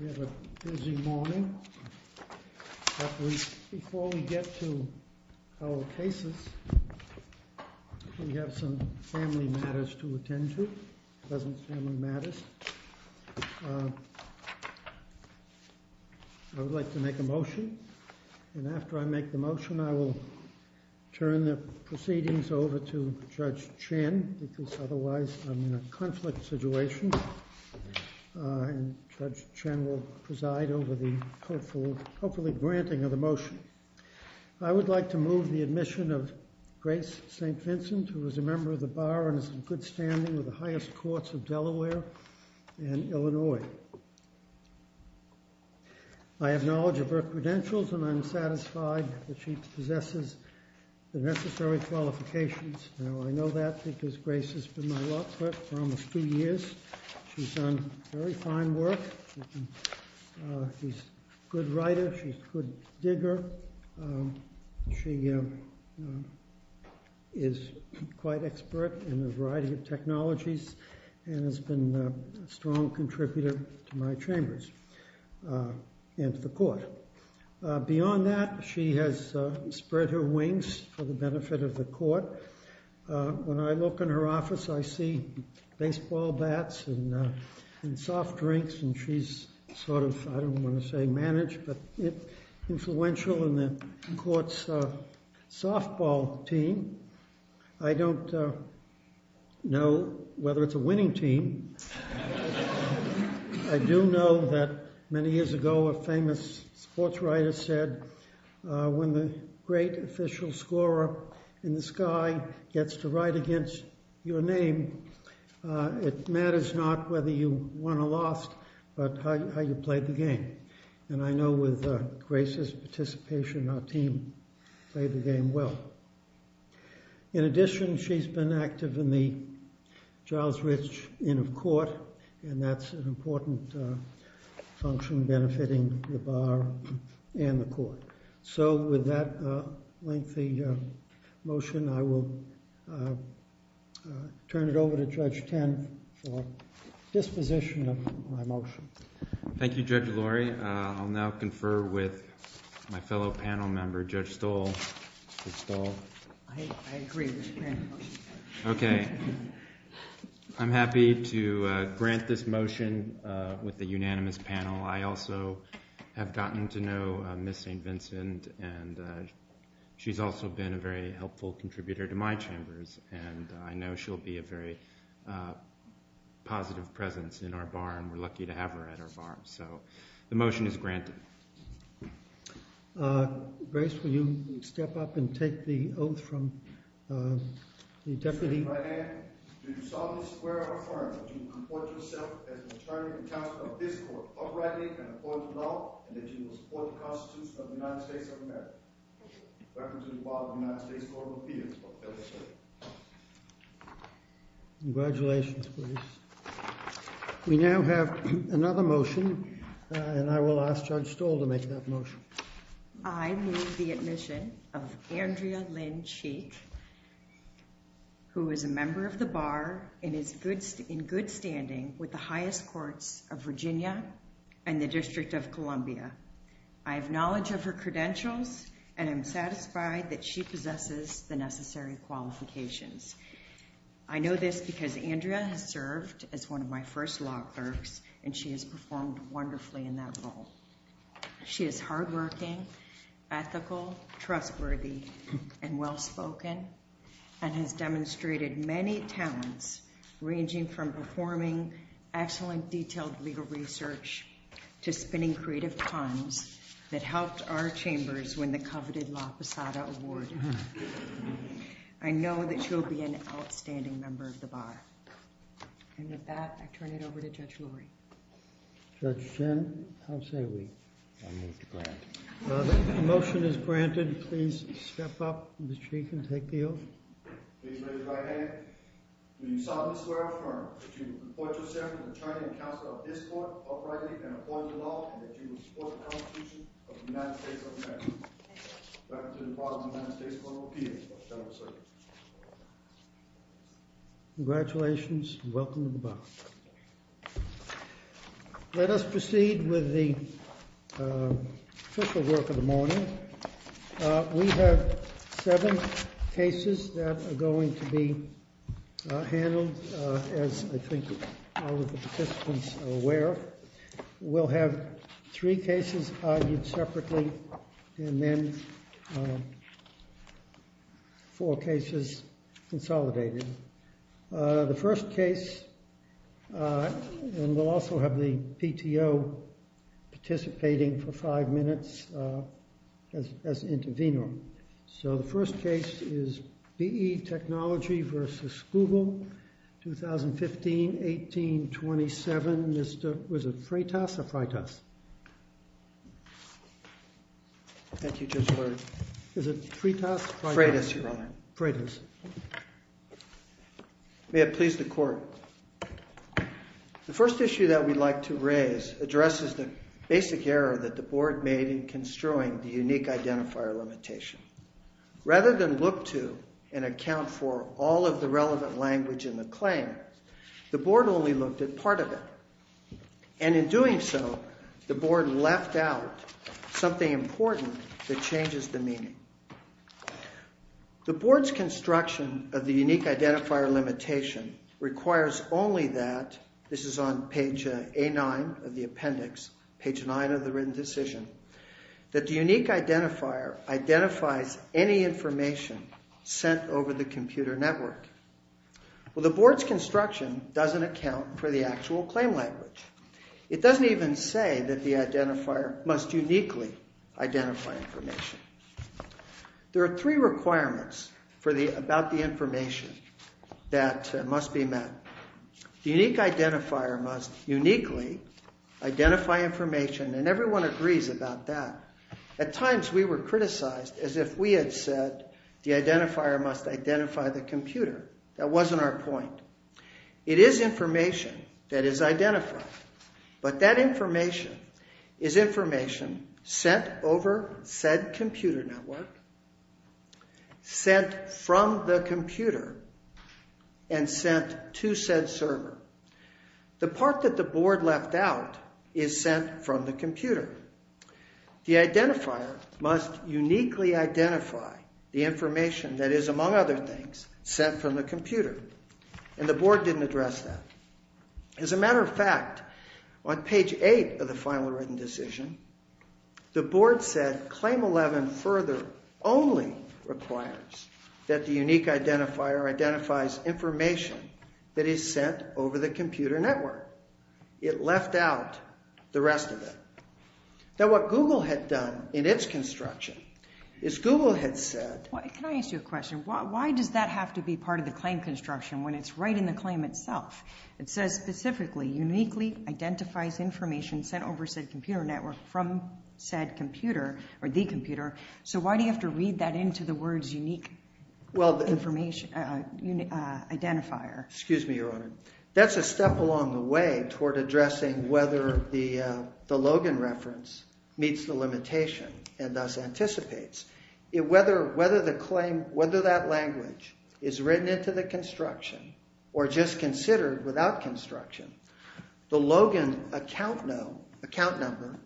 We have a busy morning, but before we get to our cases, we have some family matters to attend to. President's family matters. I would like to make a motion, and after I make the motion, I will turn the proceedings over to Judge Chen, because otherwise I'm in a conflict situation, and Judge Chen will preside over the hopefully granting of the motion. I would like to move the admission of Grace St. Vincent, who is a member of the Bar and is in good standing with the highest courts of Delaware and Illinois. I have knowledge of her credentials, and I'm satisfied that she possesses the necessary qualifications. Now, I know that because Grace has been my law clerk for almost two years. She's done very fine work. She's a good writer. She's a good digger. She is quite expert in a variety of technologies and has been a strong contributor to my chambers and to the court. Beyond that, she has spread her wings for the benefit of the court. When I look in her office, I see baseball bats and soft drinks, and she's sort of, I don't want to say managed, but influential in the court's softball team. I don't know whether it's a winning team. I do know that many years ago, a famous sports writer said, when the great official scorer in the sky gets to write against your name, it matters not whether you won or lost, but how you played the game. And I know with Grace's participation, our team played the game well. In addition, she's been active in the Charles Rich Inn of Court, and that's an important function benefiting the bar and the court. So with that lengthy motion, I will turn it over to Judge Tan for disposition of my motion. Thank you, Judge Lurie. I'll now confer with my fellow panel member, Judge Stoll. I agree with the motion. Okay. I'm happy to grant this motion with the unanimous panel. I also have gotten to know Ms. St. Vincent, and she's also been a very helpful contributor to my chambers, and I know she'll be a very positive presence in our bar, and we're lucky to have her at our bar. So the motion is granted. Grace, will you step up and take the oath from the deputy? I say by hand, do you solemnly swear or affirm that you will comport yourself as attorney and counsel of this court uprightly and according to law, and that you will support the Constitution of the United States of America in reference to the law of the United States of America. Congratulations, Grace. We now have another motion, and I will ask Judge Stoll to make that motion. I move the admission of Andrea Lynn Sheik, who is a member of the bar and is in good standing with the highest courts of Virginia and the District of Columbia. I have knowledge of her credentials, and I'm satisfied that she possesses the necessary qualifications. I know this because Andrea has served as one of my first law clerks, and she has performed wonderfully in that role. She is hardworking, ethical, trustworthy, and well-spoken, and has demonstrated many talents, ranging from performing excellent detailed legal research to spinning creative puns that helped our chambers win the coveted La Posada Award. I know that she will be an outstanding member of the bar. And with that, I turn it over to Judge Lurie. Judge Chen, how say we? I move to grant. The motion is granted. Please step up, Ms. Sheik, and take the oath. Please raise your right hand. Do you solemnly swear or affirm that you will comport yourself as attorney and counsel of this court uprightly and according to law, and that you will support the Constitution of the United States of America and the Constitution of the United States of America and the Constitution of the United States of America and the Constitution of the United States of America and the Constitution of the United States of America Congratulations, and welcome to the bar. Let us proceed with the official work of the morning. We have seven cases that are going to be handled, as I think all of the participants are aware of. We'll have three cases argued separately, and then four cases consolidated. The first case, and we'll also have the PTO participating for five minutes as an intervener. The first case is BE Technology v. Google, 2015-18-27. Was it Freitas or Freitas? Is it Freitas or Freitas? Freitas, Your Honor. May it please the Court. The first issue that we'd like to raise addresses the basic error that the Board made in construing the unique identifier limitation. Rather than look to and account for all of the relevant language in the claim, the Board only looked at part of it. And in doing so, the Board left out something important that changes the meaning. The Board's construction of the unique identifier limitation requires only that, this is on page A9 of the appendix, page 9 of the written decision, that the unique identifier identifies any information sent over the computer network. Well, the Board's construction doesn't account for the actual claim language. It doesn't even say that the identifier must uniquely identify information. There are three requirements about the information that must be met. The unique identifier must uniquely identify information, and everyone agrees about that. At times, we were criticized as if we had said the identifier must identify the computer. That wasn't our point. It is information that is identified, but that information is information sent over said computer network, sent from the computer, and sent to said server. The part that the Board left out is sent from the computer. The identifier must uniquely identify the information that is, among other things, sent from the computer, and the Board didn't address that. As a matter of fact, on page 8 of the final written decision, the Board said claim 11 further only requires that the unique identifier identifies information that is sent over the computer network. It left out the rest of it. Now, what Google had done in its construction is Google had said... Can I ask you a question? Why does that have to be part of the claim construction when it's right in the claim itself? It says specifically, uniquely identifies information sent over said computer network from said computer, or the computer, so why do you have to read that into the words unique identifier? Excuse me, Your Honor. That's a step along the way toward addressing whether the Logan reference meets the limitation and thus anticipates. Whether that language is written into the construction or just considered without construction, the Logan account number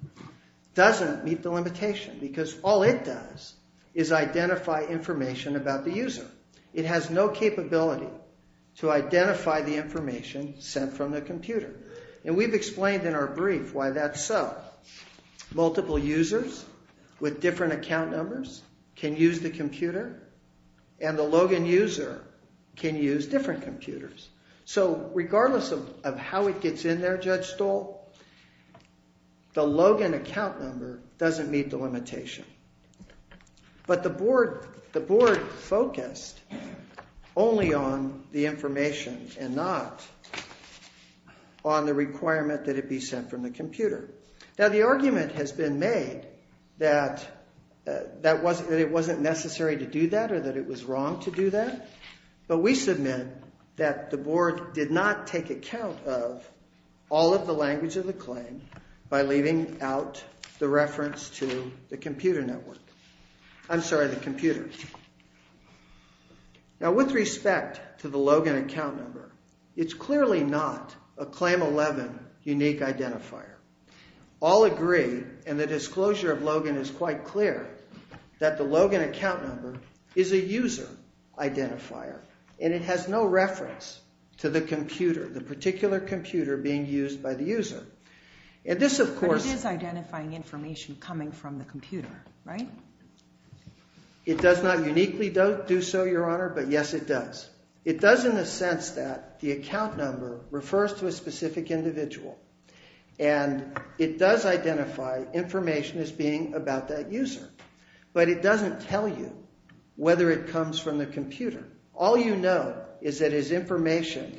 doesn't meet the limitation because all it does is identify information about the user. It has no capability to identify the information sent from the computer, and we've explained in our brief why that's so. Multiple users with different account numbers can use the computer, and the Logan user can use different computers. So regardless of how it gets in there, Judge Stoll, the Logan account number doesn't meet the limitation. But the board focused only on the information and not on the requirement that it be sent from the computer. Now the argument has been made that it wasn't necessary to do that or that it was wrong to do that, but we submit that the board did not take account of all of the language of the claim by leaving out the reference to the computer network. I'm sorry, the computer. Now with respect to the Logan account number, it's clearly not a Claim 11 unique identifier. All agree, and the disclosure of Logan is quite clear, that the Logan account number is a user identifier, and it has no reference to the computer, the particular computer being used by the user. But it is identifying information coming from the computer, right? It does not uniquely do so, Your Honor, but yes it does. It does in the sense that the account number refers to a specific individual, and it does identify information as being about that user, but it doesn't tell you whether it comes from the computer. All you know is that it's information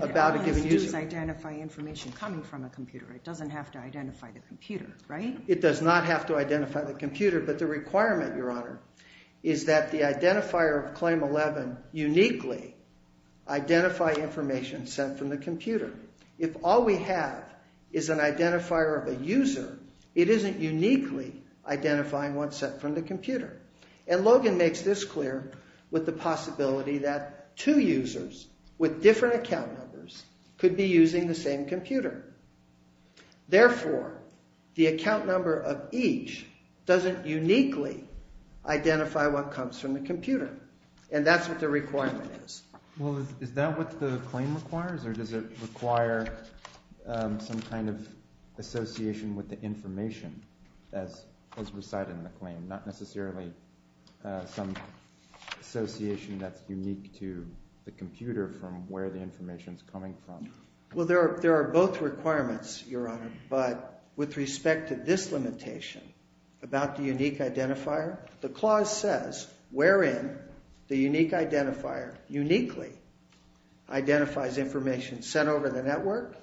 about a given user. But all it has to do is identify information coming from a computer. It doesn't have to identify the computer, right? It does not have to identify the computer, but the requirement, Your Honor, is that the identifier of Claim 11 uniquely identify information sent from the computer. If all we have is an identifier of a user, it isn't uniquely identifying what's sent from the computer. And Logan makes this clear with the possibility that two users with different account numbers could be using the same computer. Therefore, the account number of each doesn't uniquely identify what comes from the computer, and that's what the requirement is. Well, is that what the claim requires, or does it require some kind of association with the information as recited in the claim, not necessarily some association that's unique to the computer from where the information is coming from? Well, there are both requirements, Your Honor, but with respect to this limitation about the unique identifier, the clause says wherein the unique identifier uniquely identifies information sent over the network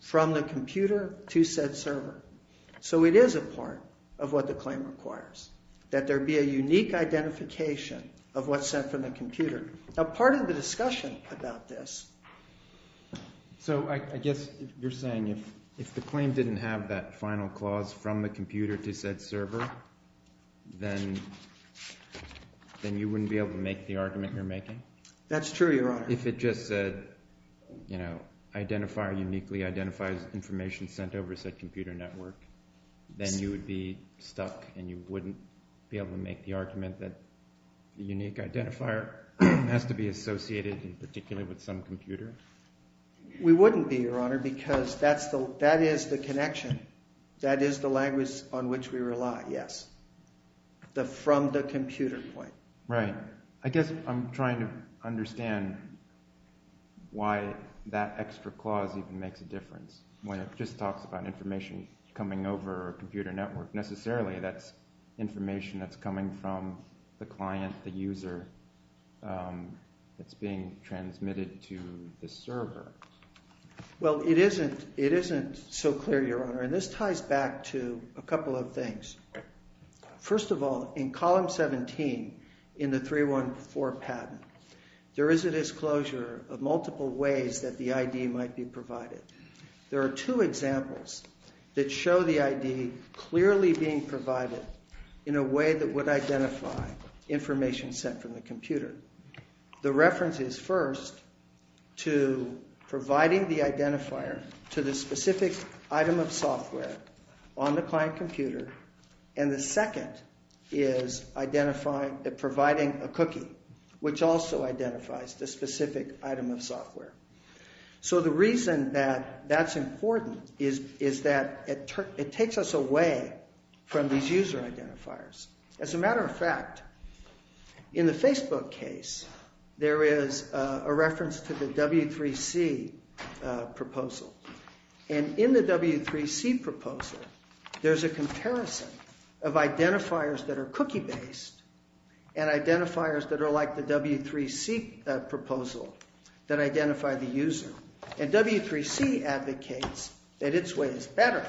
from the computer to said server. So it is a part of what the claim requires, that there be a unique identification of what's sent from the computer. Now, part of the discussion about this... So I guess you're saying if the claim didn't have that final clause, from the computer to said server, then you wouldn't be able to make the argument you're making? That's true, Your Honor. If it just said, you know, identifier uniquely identifies information sent over said computer network, then you would be stuck and you wouldn't be able to make the argument that the unique identifier has to be associated in particular with some computer? We wouldn't be, Your Honor, because that is the connection. That is the language on which we rely, yes. From the computer point. Right. I guess I'm trying to understand why that extra clause even makes a difference. When it just talks about information coming over a computer network, necessarily that's information that's coming from the client, the user, that's being transmitted to the server. Well, it isn't so clear, Your Honor, and this ties back to a couple of things. First of all, in column 17 in the 314 patent, there is a disclosure of multiple ways that the ID might be provided. There are two examples that show the ID clearly being provided in a way that would identify information sent from the computer. The reference is first to providing the identifier to the specific item of software on the client computer, and the second is providing a cookie, which also identifies the specific item of software. So the reason that that's important is that it takes us away from these user identifiers. As a matter of fact, in the Facebook case, there is a reference to the W3C proposal. And in the W3C proposal, there's a comparison of identifiers that are cookie-based and identifiers that are like the W3C proposal that identify the user. And W3C advocates that its way is better.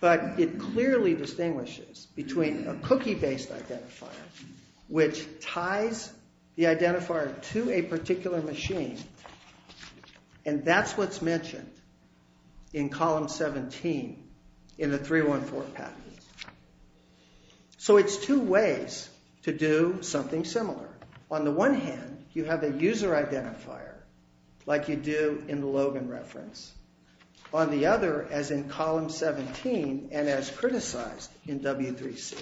But it clearly distinguishes between a cookie-based identifier, which ties the identifier to a particular machine, and that's what's mentioned in column 17 in the 314 patent. So it's two ways to do something similar. On the one hand, you have a user identifier, like you do in the Logan reference. On the other, as in column 17 and as criticized in W3C.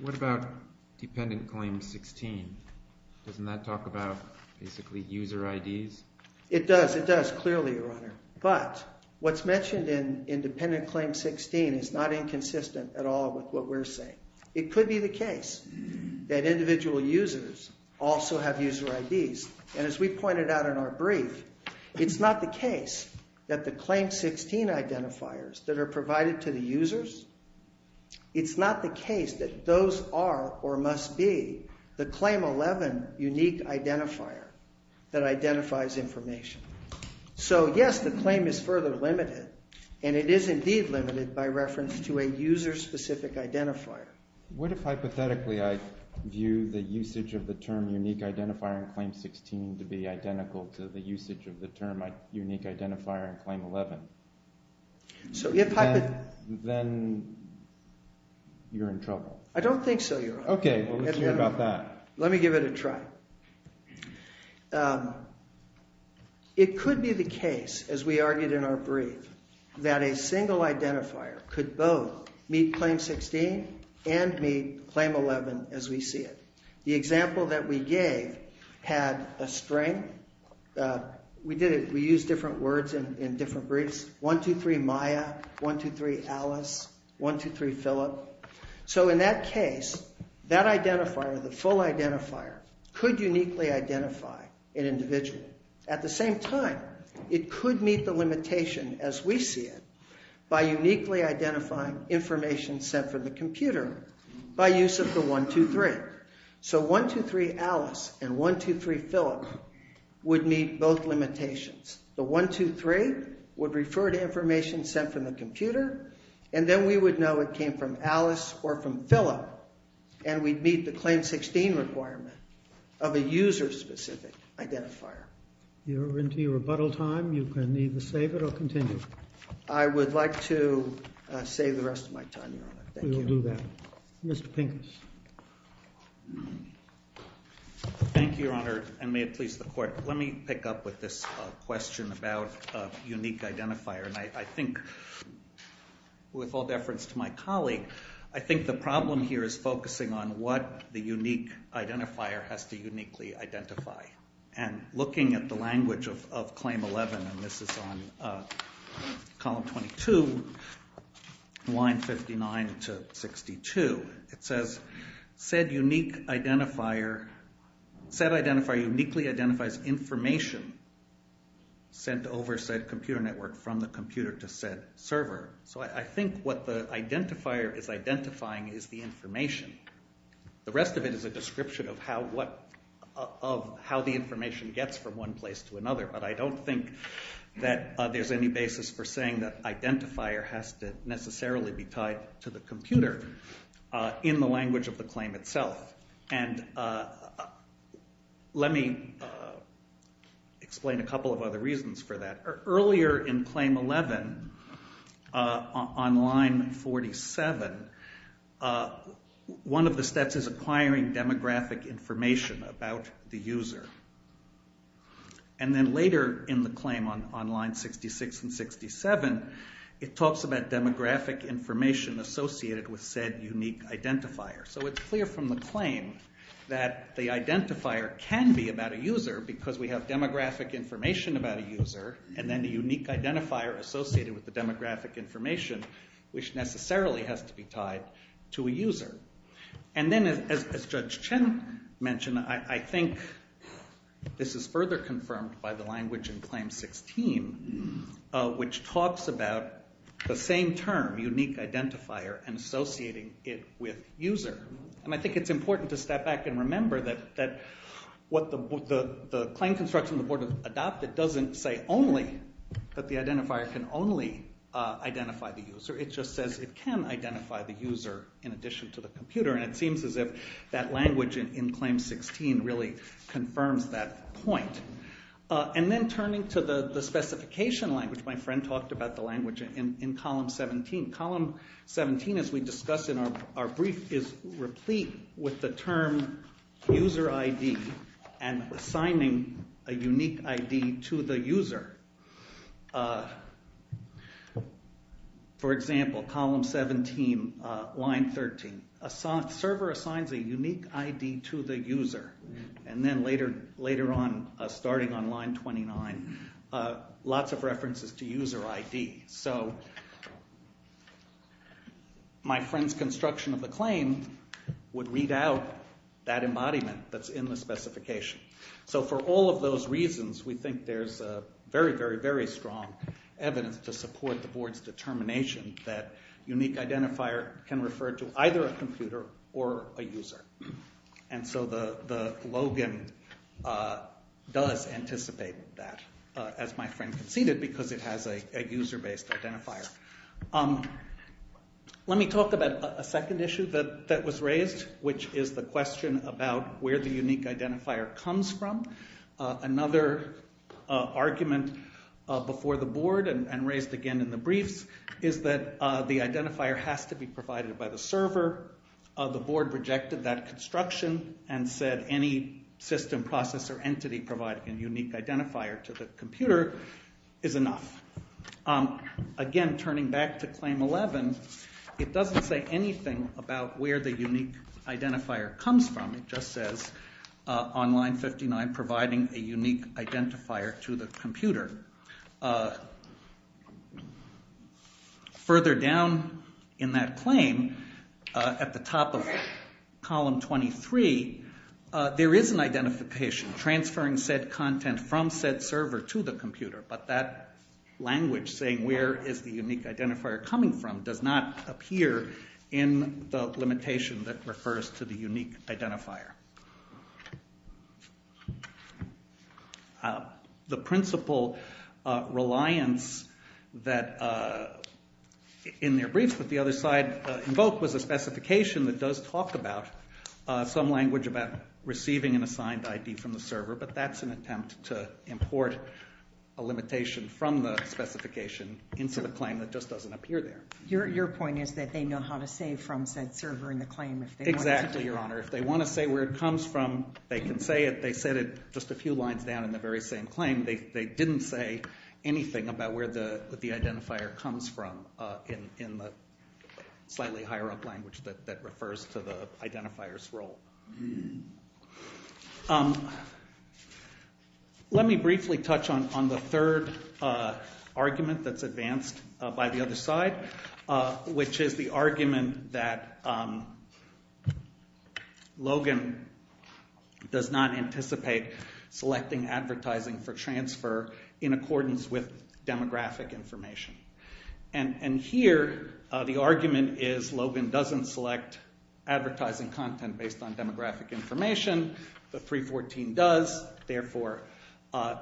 What about Dependent Claim 16? Doesn't that talk about basically user IDs? It does. It does, clearly, Your Honor. But what's mentioned in Dependent Claim 16 is not inconsistent at all with what we're saying. It could be the case that individual users also have user IDs. And as we pointed out in our brief, it's not the case that the Claim 16 identifiers that are provided to the users, it's not the case that those are, or must be, the Claim 11 unique identifier that identifies information. So, yes, the claim is further limited, and it is indeed limited by reference to a user-specific identifier. What if, hypothetically, I view the usage of the term unique identifier in Claim 16 to be identical to the usage of the term unique identifier in Claim 11? Then you're in trouble. I don't think so, Your Honor. Okay, well, let's hear about that. Let me give it a try. It could be the case, as we argued in our brief, that a single identifier could both meet Claim 16 and meet Claim 11 as we see it. The example that we gave had a string. We did it. We used different words in different briefs. One, two, three, Maya. One, two, three, Alice. One, two, three, Philip. So in that case, that identifier, the full identifier, could uniquely identify an individual. At the same time, it could meet the limitation as we see it by uniquely identifying information sent from the computer by use of the one, two, three. So one, two, three, Alice, and one, two, three, Philip would meet both limitations. The one, two, three would refer to information sent from the computer, and then we would know it came from Alice or from Philip, and we'd meet the Claim 16 requirement of a user-specific identifier. You're into your rebuttal time. You can either save it or continue. I would like to save the rest of my time, Your Honor. Thank you. We will do that. Mr. Pincus. Thank you, Your Honor, and may it please the Court. Let me pick up with this question about unique identifier. I think, with all deference to my colleague, I think the problem here is focusing on what the unique identifier has to uniquely identify, and looking at the language of Claim 11, and this is on Column 22, line 59 to 62, it says, Said identifier uniquely identifies information sent over said computer network from the computer to said server. So I think what the identifier is identifying is the information. The rest of it is a description of how the information gets from one place to another, but I don't think that there's any basis for saying that identifier has to necessarily be tied to the computer in the language of the claim itself. And let me explain a couple of other reasons for that. Earlier in Claim 11, on line 47, one of the steps is acquiring demographic information about the user. And then later in the claim on line 66 and 67, it talks about demographic information associated with said unique identifier. So it's clear from the claim that the identifier can be about a user because we have demographic information about a user, and then the unique identifier associated with the demographic information, which necessarily has to be tied to a user. And then, as Judge Chen mentioned, I think this is further confirmed by the language in Claim 16, which talks about the same term, unique identifier, and associating it with user. And I think it's important to step back and remember that what the Claim Construction Board has adopted doesn't say only that the identifier can only identify the user. It just says it can identify the user in addition to the computer, and it seems as if that language in Claim 16 really confirms that point. And then turning to the specification language, my friend talked about the language in Column 17. Column 17, as we discussed in our brief, is replete with the term user ID and assigning a unique ID to the user. For example, Column 17, line 13, server assigns a unique ID to the user. And then later on, starting on line 29, lots of references to user ID. So my friend's construction of the claim would read out that embodiment that's in the specification. So for all of those reasons, we think there's very, very, very strong evidence to support the Board's determination that unique identifier can refer to either a computer or a user. And so the login does anticipate that, as my friend conceded, because it has a user-based identifier. Let me talk about a second issue that was raised, which is the question about where the unique identifier comes from. Another argument before the Board and raised again in the briefs is that the identifier has to be provided by the server. The Board rejected that construction and said any system, process, or entity providing a unique identifier to the computer is enough. Again, turning back to Claim 11, it doesn't say anything about where the unique identifier comes from. It just says on line 59, providing a unique identifier to the computer. Further down in that claim, at the top of Column 23, there is an identification. Transferring said content from said server to the computer, but that language saying where is the unique identifier coming from does not appear in the limitation that refers to the unique identifier. The principle reliance that, in their briefs, but the other side invoked, was a specification that does talk about some language about receiving an assigned ID from the server, but that's an attempt to import a limitation from the specification into the claim that just doesn't appear there. Your point is that they know how to say from said server in the claim. Exactly, Your Honor. If they want to say where it comes from, they can say it. They said it just a few lines down in the very same claim. They didn't say anything about where the identifier comes from in the slightly higher up language that refers to the identifier's role. Let me briefly touch on the third argument that's advanced by the other side, which is the argument that Logan does not anticipate selecting advertising for transfer in accordance with demographic information. Here, the argument is Logan doesn't select advertising content based on demographic information, but 3.14 does, therefore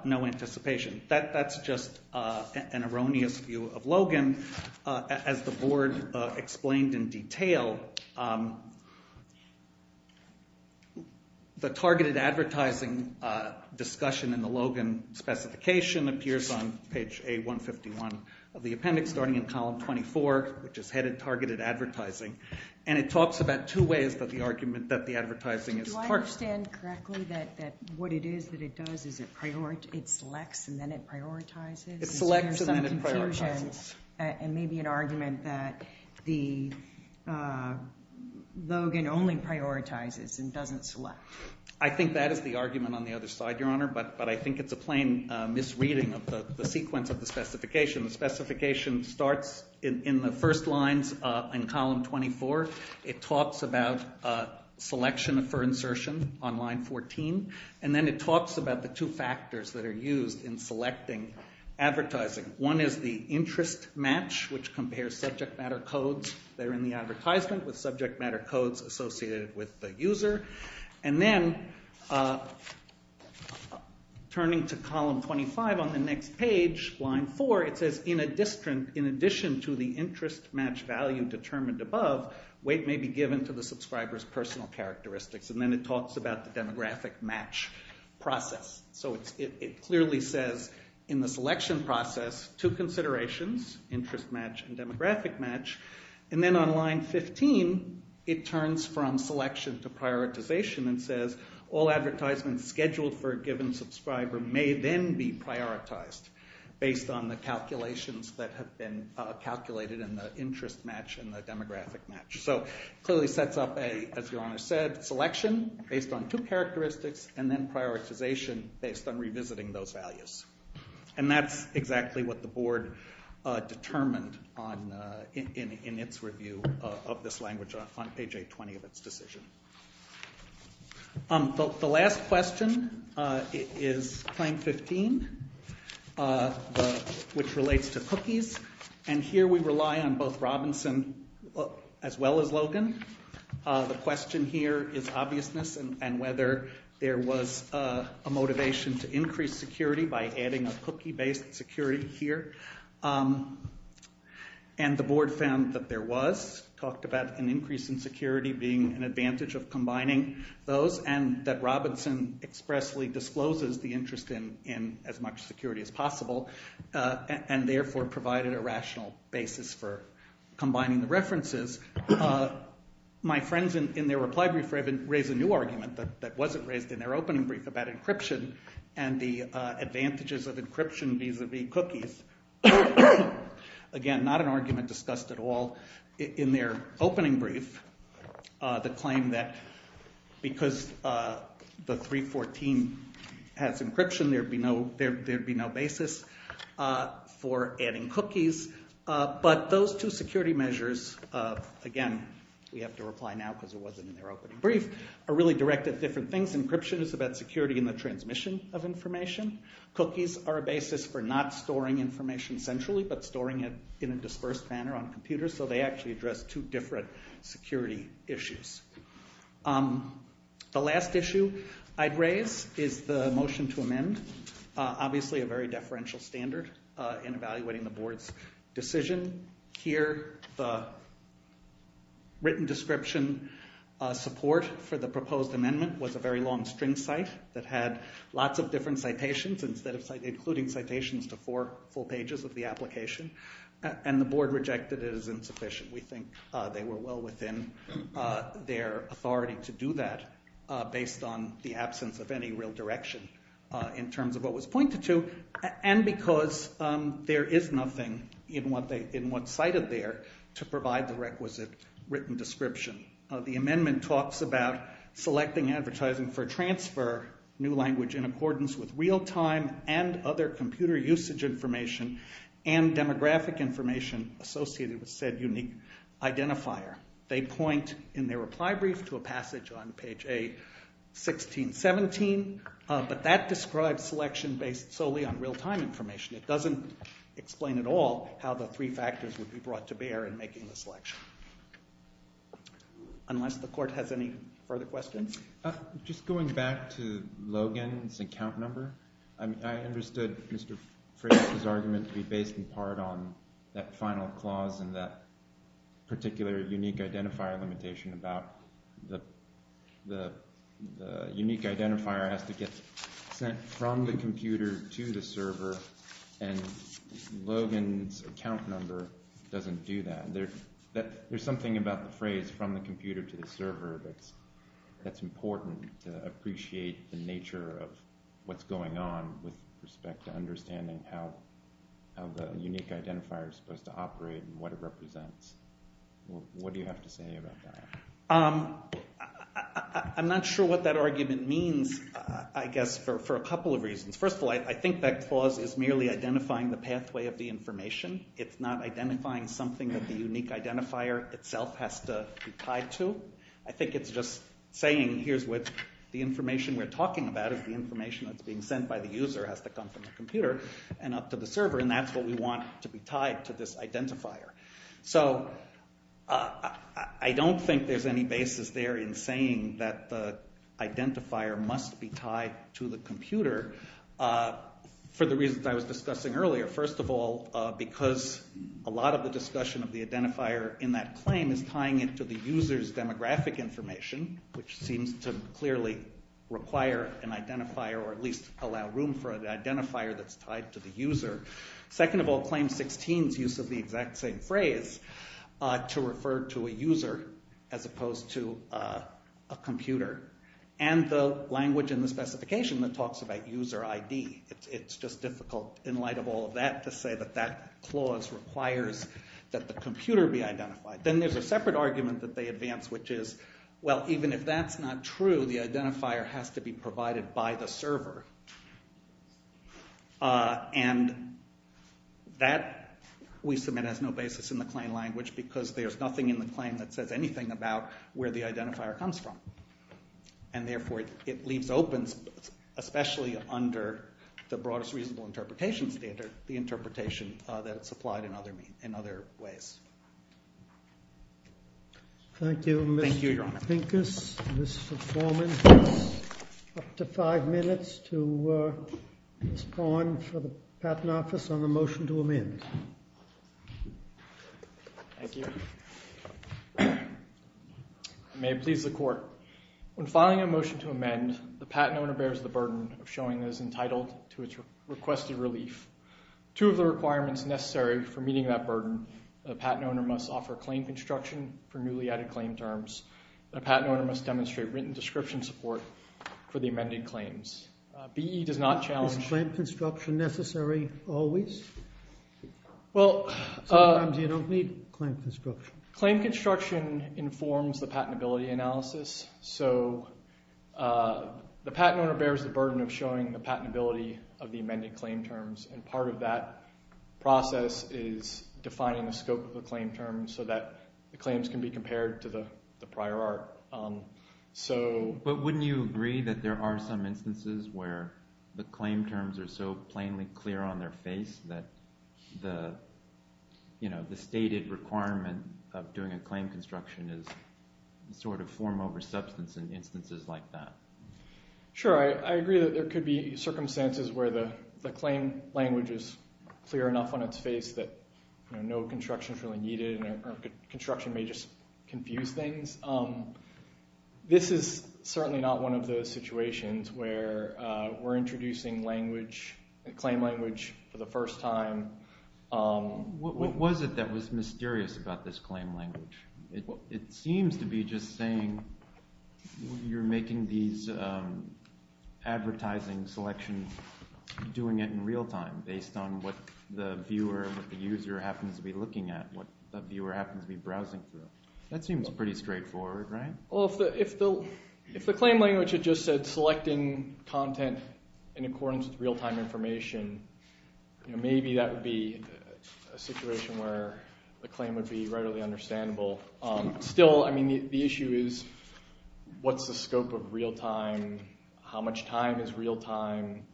no anticipation. That's just an erroneous view of Logan. As the Board explained in detail, the targeted advertising discussion in the Logan specification appears on page A151 of the appendix, starting in column 24, which is headed Targeted Advertising, and it talks about two ways that the argument that the advertising is targeted. Do I understand correctly that what it is that it does is it selects and then it prioritizes? It selects and then it prioritizes. And maybe an argument that Logan only prioritizes and doesn't select. I think that is the argument on the other side, Your Honor, but I think it's a plain misreading of the sequence of the specification. The specification starts in the first lines in column 24. It talks about selection for insertion on line 14, and then it talks about the two factors that are used in selecting advertising. One is the interest match, which compares subject matter codes that are in the advertisement with subject matter codes associated with the user. And then, turning to column 25 on the next page, line 4, it says in addition to the interest match value determined above, weight may be given to the subscriber's personal characteristics. And then it talks about the demographic match process. So it clearly says in the selection process, two considerations, interest match and demographic match. And then on line 15, it turns from selection to prioritization and says, all advertisements scheduled for a given subscriber may then be prioritized based on the calculations that have been calculated in the interest match and the demographic match. So it clearly sets up a, as Your Honor said, selection based on two characteristics and then prioritization based on revisiting those values. And that's exactly what the Board determined in its review of this language on page 820 of its decision. The last question is claim 15, which relates to cookies. And here we rely on both Robinson as well as Logan. The question here is obviousness and whether there was a motivation to increase security by adding a cookie-based security here. And the Board found that there was. It talked about an increase in security being an advantage of combining those and that Robinson expressly discloses the interest in as much security as possible and therefore provided a rational basis for combining the references. My friends in their reply brief raised a new argument that wasn't raised in their opening brief about encryption and the advantages of encryption vis-a-vis cookies. Again, not an argument discussed at all in their opening brief, the claim that because the 314 has encryption, there would be no basis for adding cookies. But those two security measures, again, we have to reply now because it wasn't in their opening brief, are really directed at different things. Encryption is about security in the transmission of information. Cookies are a basis for not storing information centrally, but storing it in a dispersed manner on computers, so they actually address two different security issues. The last issue I'd raise is the motion to amend, obviously a very deferential standard in evaluating the Board's decision. Here, the written description support for the proposed amendment was a very long string cite that had lots of different citations, including citations to four full pages of the application, and the Board rejected it as insufficient. We think they were well within their authority to do that, based on the absence of any real direction in terms of what was pointed to, and because there is nothing in what's cited there to provide the requisite written description. The amendment talks about selecting advertising for transfer, new language in accordance with real-time and other computer usage information, and demographic information associated with said unique identifier. They point in their reply brief to a passage on page A-16-17, but that describes selection based solely on real-time information. It doesn't explain at all how the three factors would be brought to bear in making the selection. Unless the Court has any further questions? Just going back to Logan's account number, I understood Mr. Fraser's argument to be based in part on that final clause and that particular unique identifier limitation about the unique identifier has to get sent from the computer to the server, and Logan's account number doesn't do that. There's something about the phrase, from the computer to the server, that's important to appreciate the nature of what's going on with respect to understanding how the unique identifier is supposed to operate and what it represents. What do you have to say about that? I'm not sure what that argument means, I guess, for a couple of reasons. First of all, I think that clause is merely identifying the pathway of the information. It's not identifying something that the unique identifier itself has to be tied to. I think it's just saying, here's what the information we're talking about is the information that's being sent by the user has to come from the computer and up to the server, and that's what we want to be tied to this identifier. I don't think there's any basis there in saying that the identifier must be tied to the computer for the reasons I was discussing earlier. First of all, because a lot of the discussion of the identifier in that claim is tying it to the user's demographic information, which seems to clearly require an identifier or at least allow room for an identifier that's tied to the user. Second of all, Claim 16's use of the exact same phrase to refer to a user as opposed to a computer and the language in the specification that talks about user ID. It's just difficult, in light of all of that, to say that that clause requires that the computer be identified. Then there's a separate argument that they advance, which is, well, even if that's not true, the identifier has to be provided by the server. And that, we submit, has no basis in the claim language because there's nothing in the claim that says anything about where the identifier comes from. And therefore, it leaves open, especially under the broadest reasonable interpretation standard, the interpretation that it's applied in other ways. Thank you, Your Honor. Mr. Foreman, you have up to five minutes to respond for the Patent Office on the motion to amend. Thank you. I may please the Court. When filing a motion to amend, the patent owner bears the burden of showing that it's entitled to its requested relief. Two of the requirements necessary for meeting that burden, the patent owner must offer claim construction for newly added claim terms. The patent owner must demonstrate written description support for the amended claims. BE does not challenge... Is claim construction necessary always? Well... Sometimes you don't need claim construction. Claim construction informs the patentability analysis, so the patent owner bears the burden of showing the patentability of the amended claim terms, and part of that process is defining the scope of the claim terms so that the claims can be compared to the prior art. But wouldn't you agree that there are some instances where the claim terms are so plainly clear on their face that the stated requirement of doing a claim construction is sort of form over substance in instances like that? Sure. I agree that there could be circumstances where the claim language is clear enough on its face that no construction is really needed and construction may just confuse things. This is certainly not one of those situations where we're introducing language, claim language, for the first time. What was it that was mysterious about this claim language? It seems to be just saying you're making these advertising selections, and doing it in real time based on what the viewer, what the user happens to be looking at, what the viewer happens to be browsing through. That seems pretty straightforward, right? Well, if the claim language had just said selecting content in accordance with real-time information, maybe that would be a situation where the claim would be readily understandable. Still, the issue is what's the scope of real-time? How much time is real-time?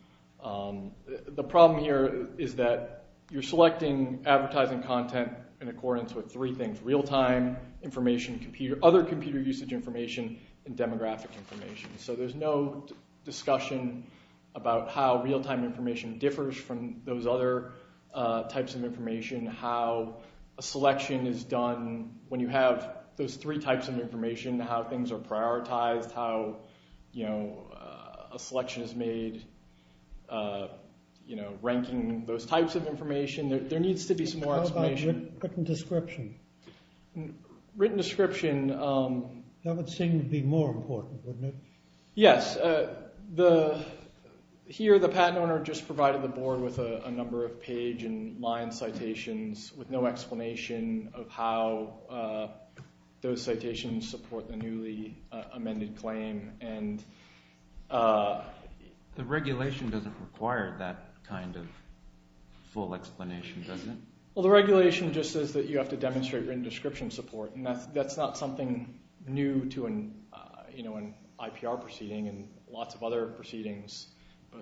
The problem here is that you're selecting advertising content in accordance with three things, real-time information, other computer usage information, and demographic information. So there's no discussion about how real-time information differs from those other types of information, how a selection is done when you have those three types of information, how things are prioritized, how a selection is made, ranking those types of information. There needs to be some more explanation. How about written description? Written description. That would seem to be more important, wouldn't it? Yes. Here, the patent owner just provided the board with a number of page and line citations with no explanation of how those citations support the newly amended claim. The regulation doesn't require that kind of full explanation, does it? Well, the regulation just says that you have to demonstrate written description support, and that's not something new to an IPR proceeding and lots of other proceedings.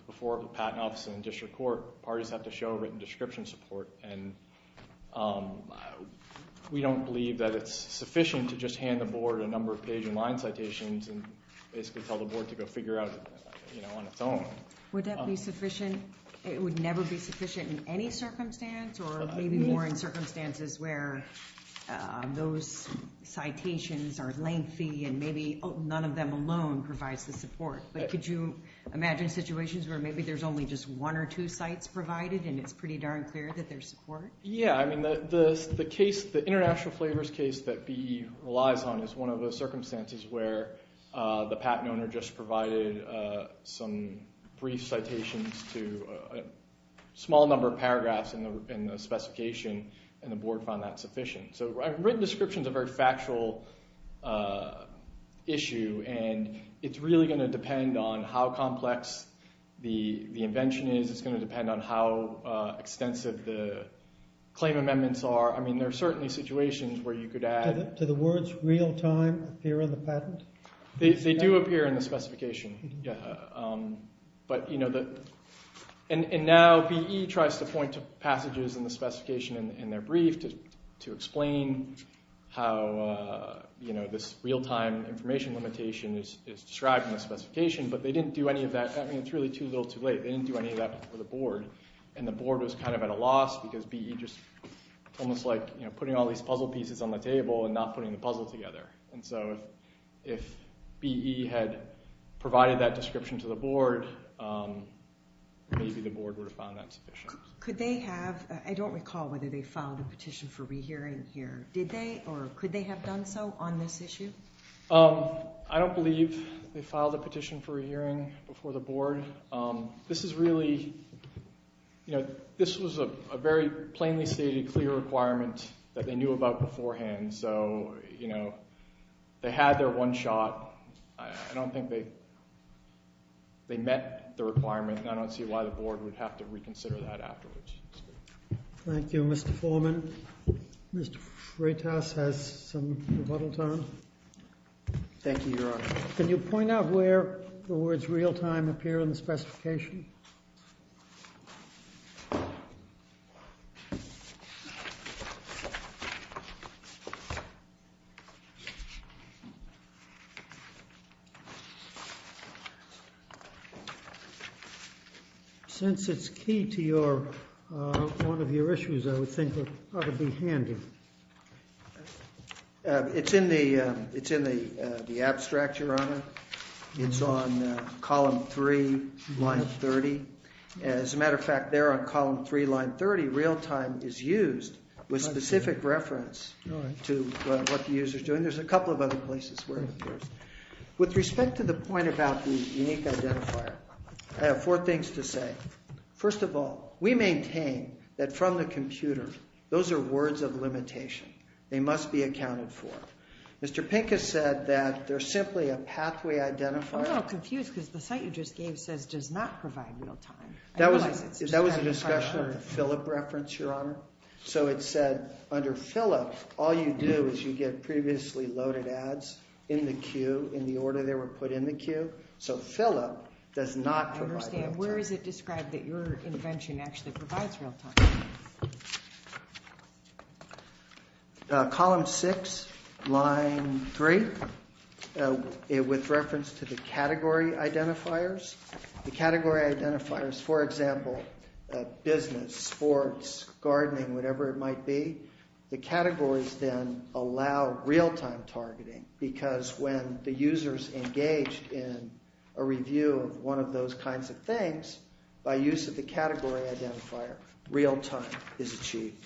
Before a patent office and district court, parties have to show written description support, and we don't believe that it's sufficient to just hand the board a number of page and line citations and basically tell the board to go figure out on its own. Would that be sufficient? It would never be sufficient in any circumstance, or maybe more in circumstances where those citations are lengthy and maybe none of them alone provides the support. But could you imagine situations where maybe there's only just one or two sites provided and it's pretty darn clear that there's support? Yeah. I mean, the case, the international flavors case that BE relies on is one of those circumstances where the patent owner just provided some brief citations to a small number of paragraphs in the specification, and the board found that sufficient. So written description is a very factual issue, and it's really going to depend on how complex the invention is. It's going to depend on how extensive the claim amendments are. I mean, there are certainly situations where you could add... They do appear in the specification. But, you know, and now BE tries to point to passages in the specification in their brief to explain how this real-time information limitation is described in the specification, but they didn't do any of that. I mean, it's really too little, too late. They didn't do any of that for the board, and the board was kind of at a loss because BE just almost like putting all these puzzle pieces on the table and not putting the puzzle together. And so if BE had provided that description to the board, maybe the board would have found that sufficient. Could they have? I don't recall whether they filed a petition for rehearing here. Did they, or could they have done so on this issue? I don't believe they filed a petition for a hearing before the board. This is really, you know, this was a very plainly stated, clear requirement that they knew about beforehand. So, you know, they had their one shot. I don't think they met the requirement, and I don't see why the board would have to reconsider that afterwards. Thank you, Mr. Foreman. Mr. Freitas has some rebuttal time. Thank you, Your Honor. Can you point out where the words real-time appear in the specification? Since it's key to one of your issues, I would think it would be handy. It's in the abstract, Your Honor. It's on column 3, line 30. As a matter of fact, there on column 3, line 30, real-time is used with specific reference to what the user's doing. There's a couple of other places where it appears. With respect to the point about the unique identifier, I have four things to say. First of all, we maintain that from the computer, those are words of limitation. They must be accounted for. Mr. Pincus said that they're simply a pathway identifier. I'm a little confused because the site you just gave says does not provide real-time. That was a discussion of the Phillip reference, Your Honor. So it said under Phillip, all you do is you get previously loaded ads in the queue, in the order they were put in the queue. So Phillip does not provide real-time. I understand. Where is it described that your invention actually provides real-time? Column 6, line 3, with reference to the category identifiers. The category identifiers, for example, business, sports, gardening, whatever it might be, the categories then allow real-time targeting. Because when the user's engaged in a review of one of those kinds of things, by use of the category identifier, real-time is achieved.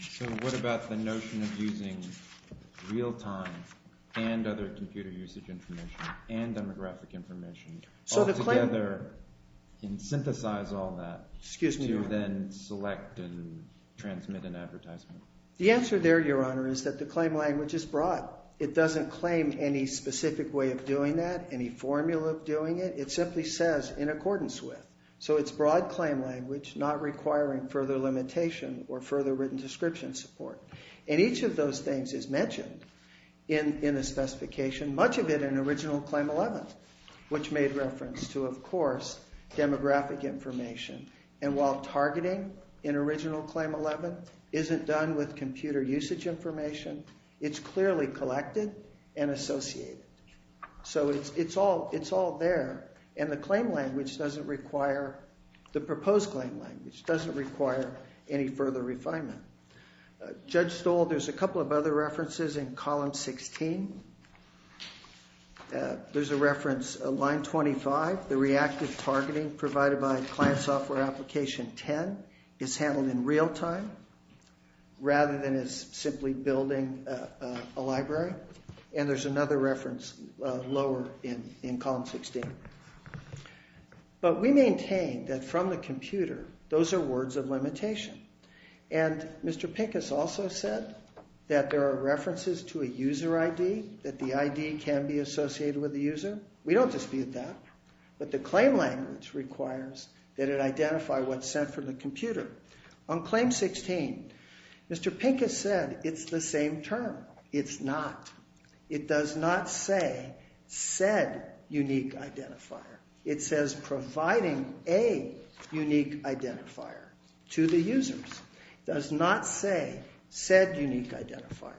So what about the notion of using real-time and other computer usage information and demographic information all together and synthesize all that to then select and transmit an advertisement? The answer there, Your Honor, is that the claim language is broad. It doesn't claim any specific way of doing that, any formula of doing it. It simply says in accordance with. So it's broad claim language, not requiring further limitation or further written description support. And each of those things is mentioned in the specification, much of it in original Claim 11, which made reference to, of course, demographic information. And while targeting in original Claim 11 isn't done with computer usage information, it's clearly collected and associated. So it's all there, and the proposed claim language doesn't require any further refinement. Judge Stoll, there's a couple of other references in column 16. There's a reference, line 25, the reactive targeting provided by Client Software Application 10 is handled in real-time rather than as simply building a library. And there's another reference lower in column 16. But we maintain that from the computer, those are words of limitation. And Mr. Pincus also said that there are references to a user ID, that the ID can be associated with the user. We don't dispute that, but the claim language requires that it identify what's sent from the computer. On Claim 16, Mr. Pincus said it's the same term. It's not. It does not say said unique identifier. It says providing a unique identifier to the users. It does not say said unique identifier.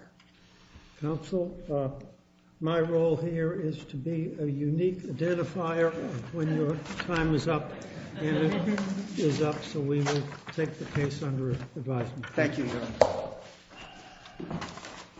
Counsel, my role here is to be a unique identifier when your time is up. And it is up, so we will take the case under advisement. Thank you, Your Honor.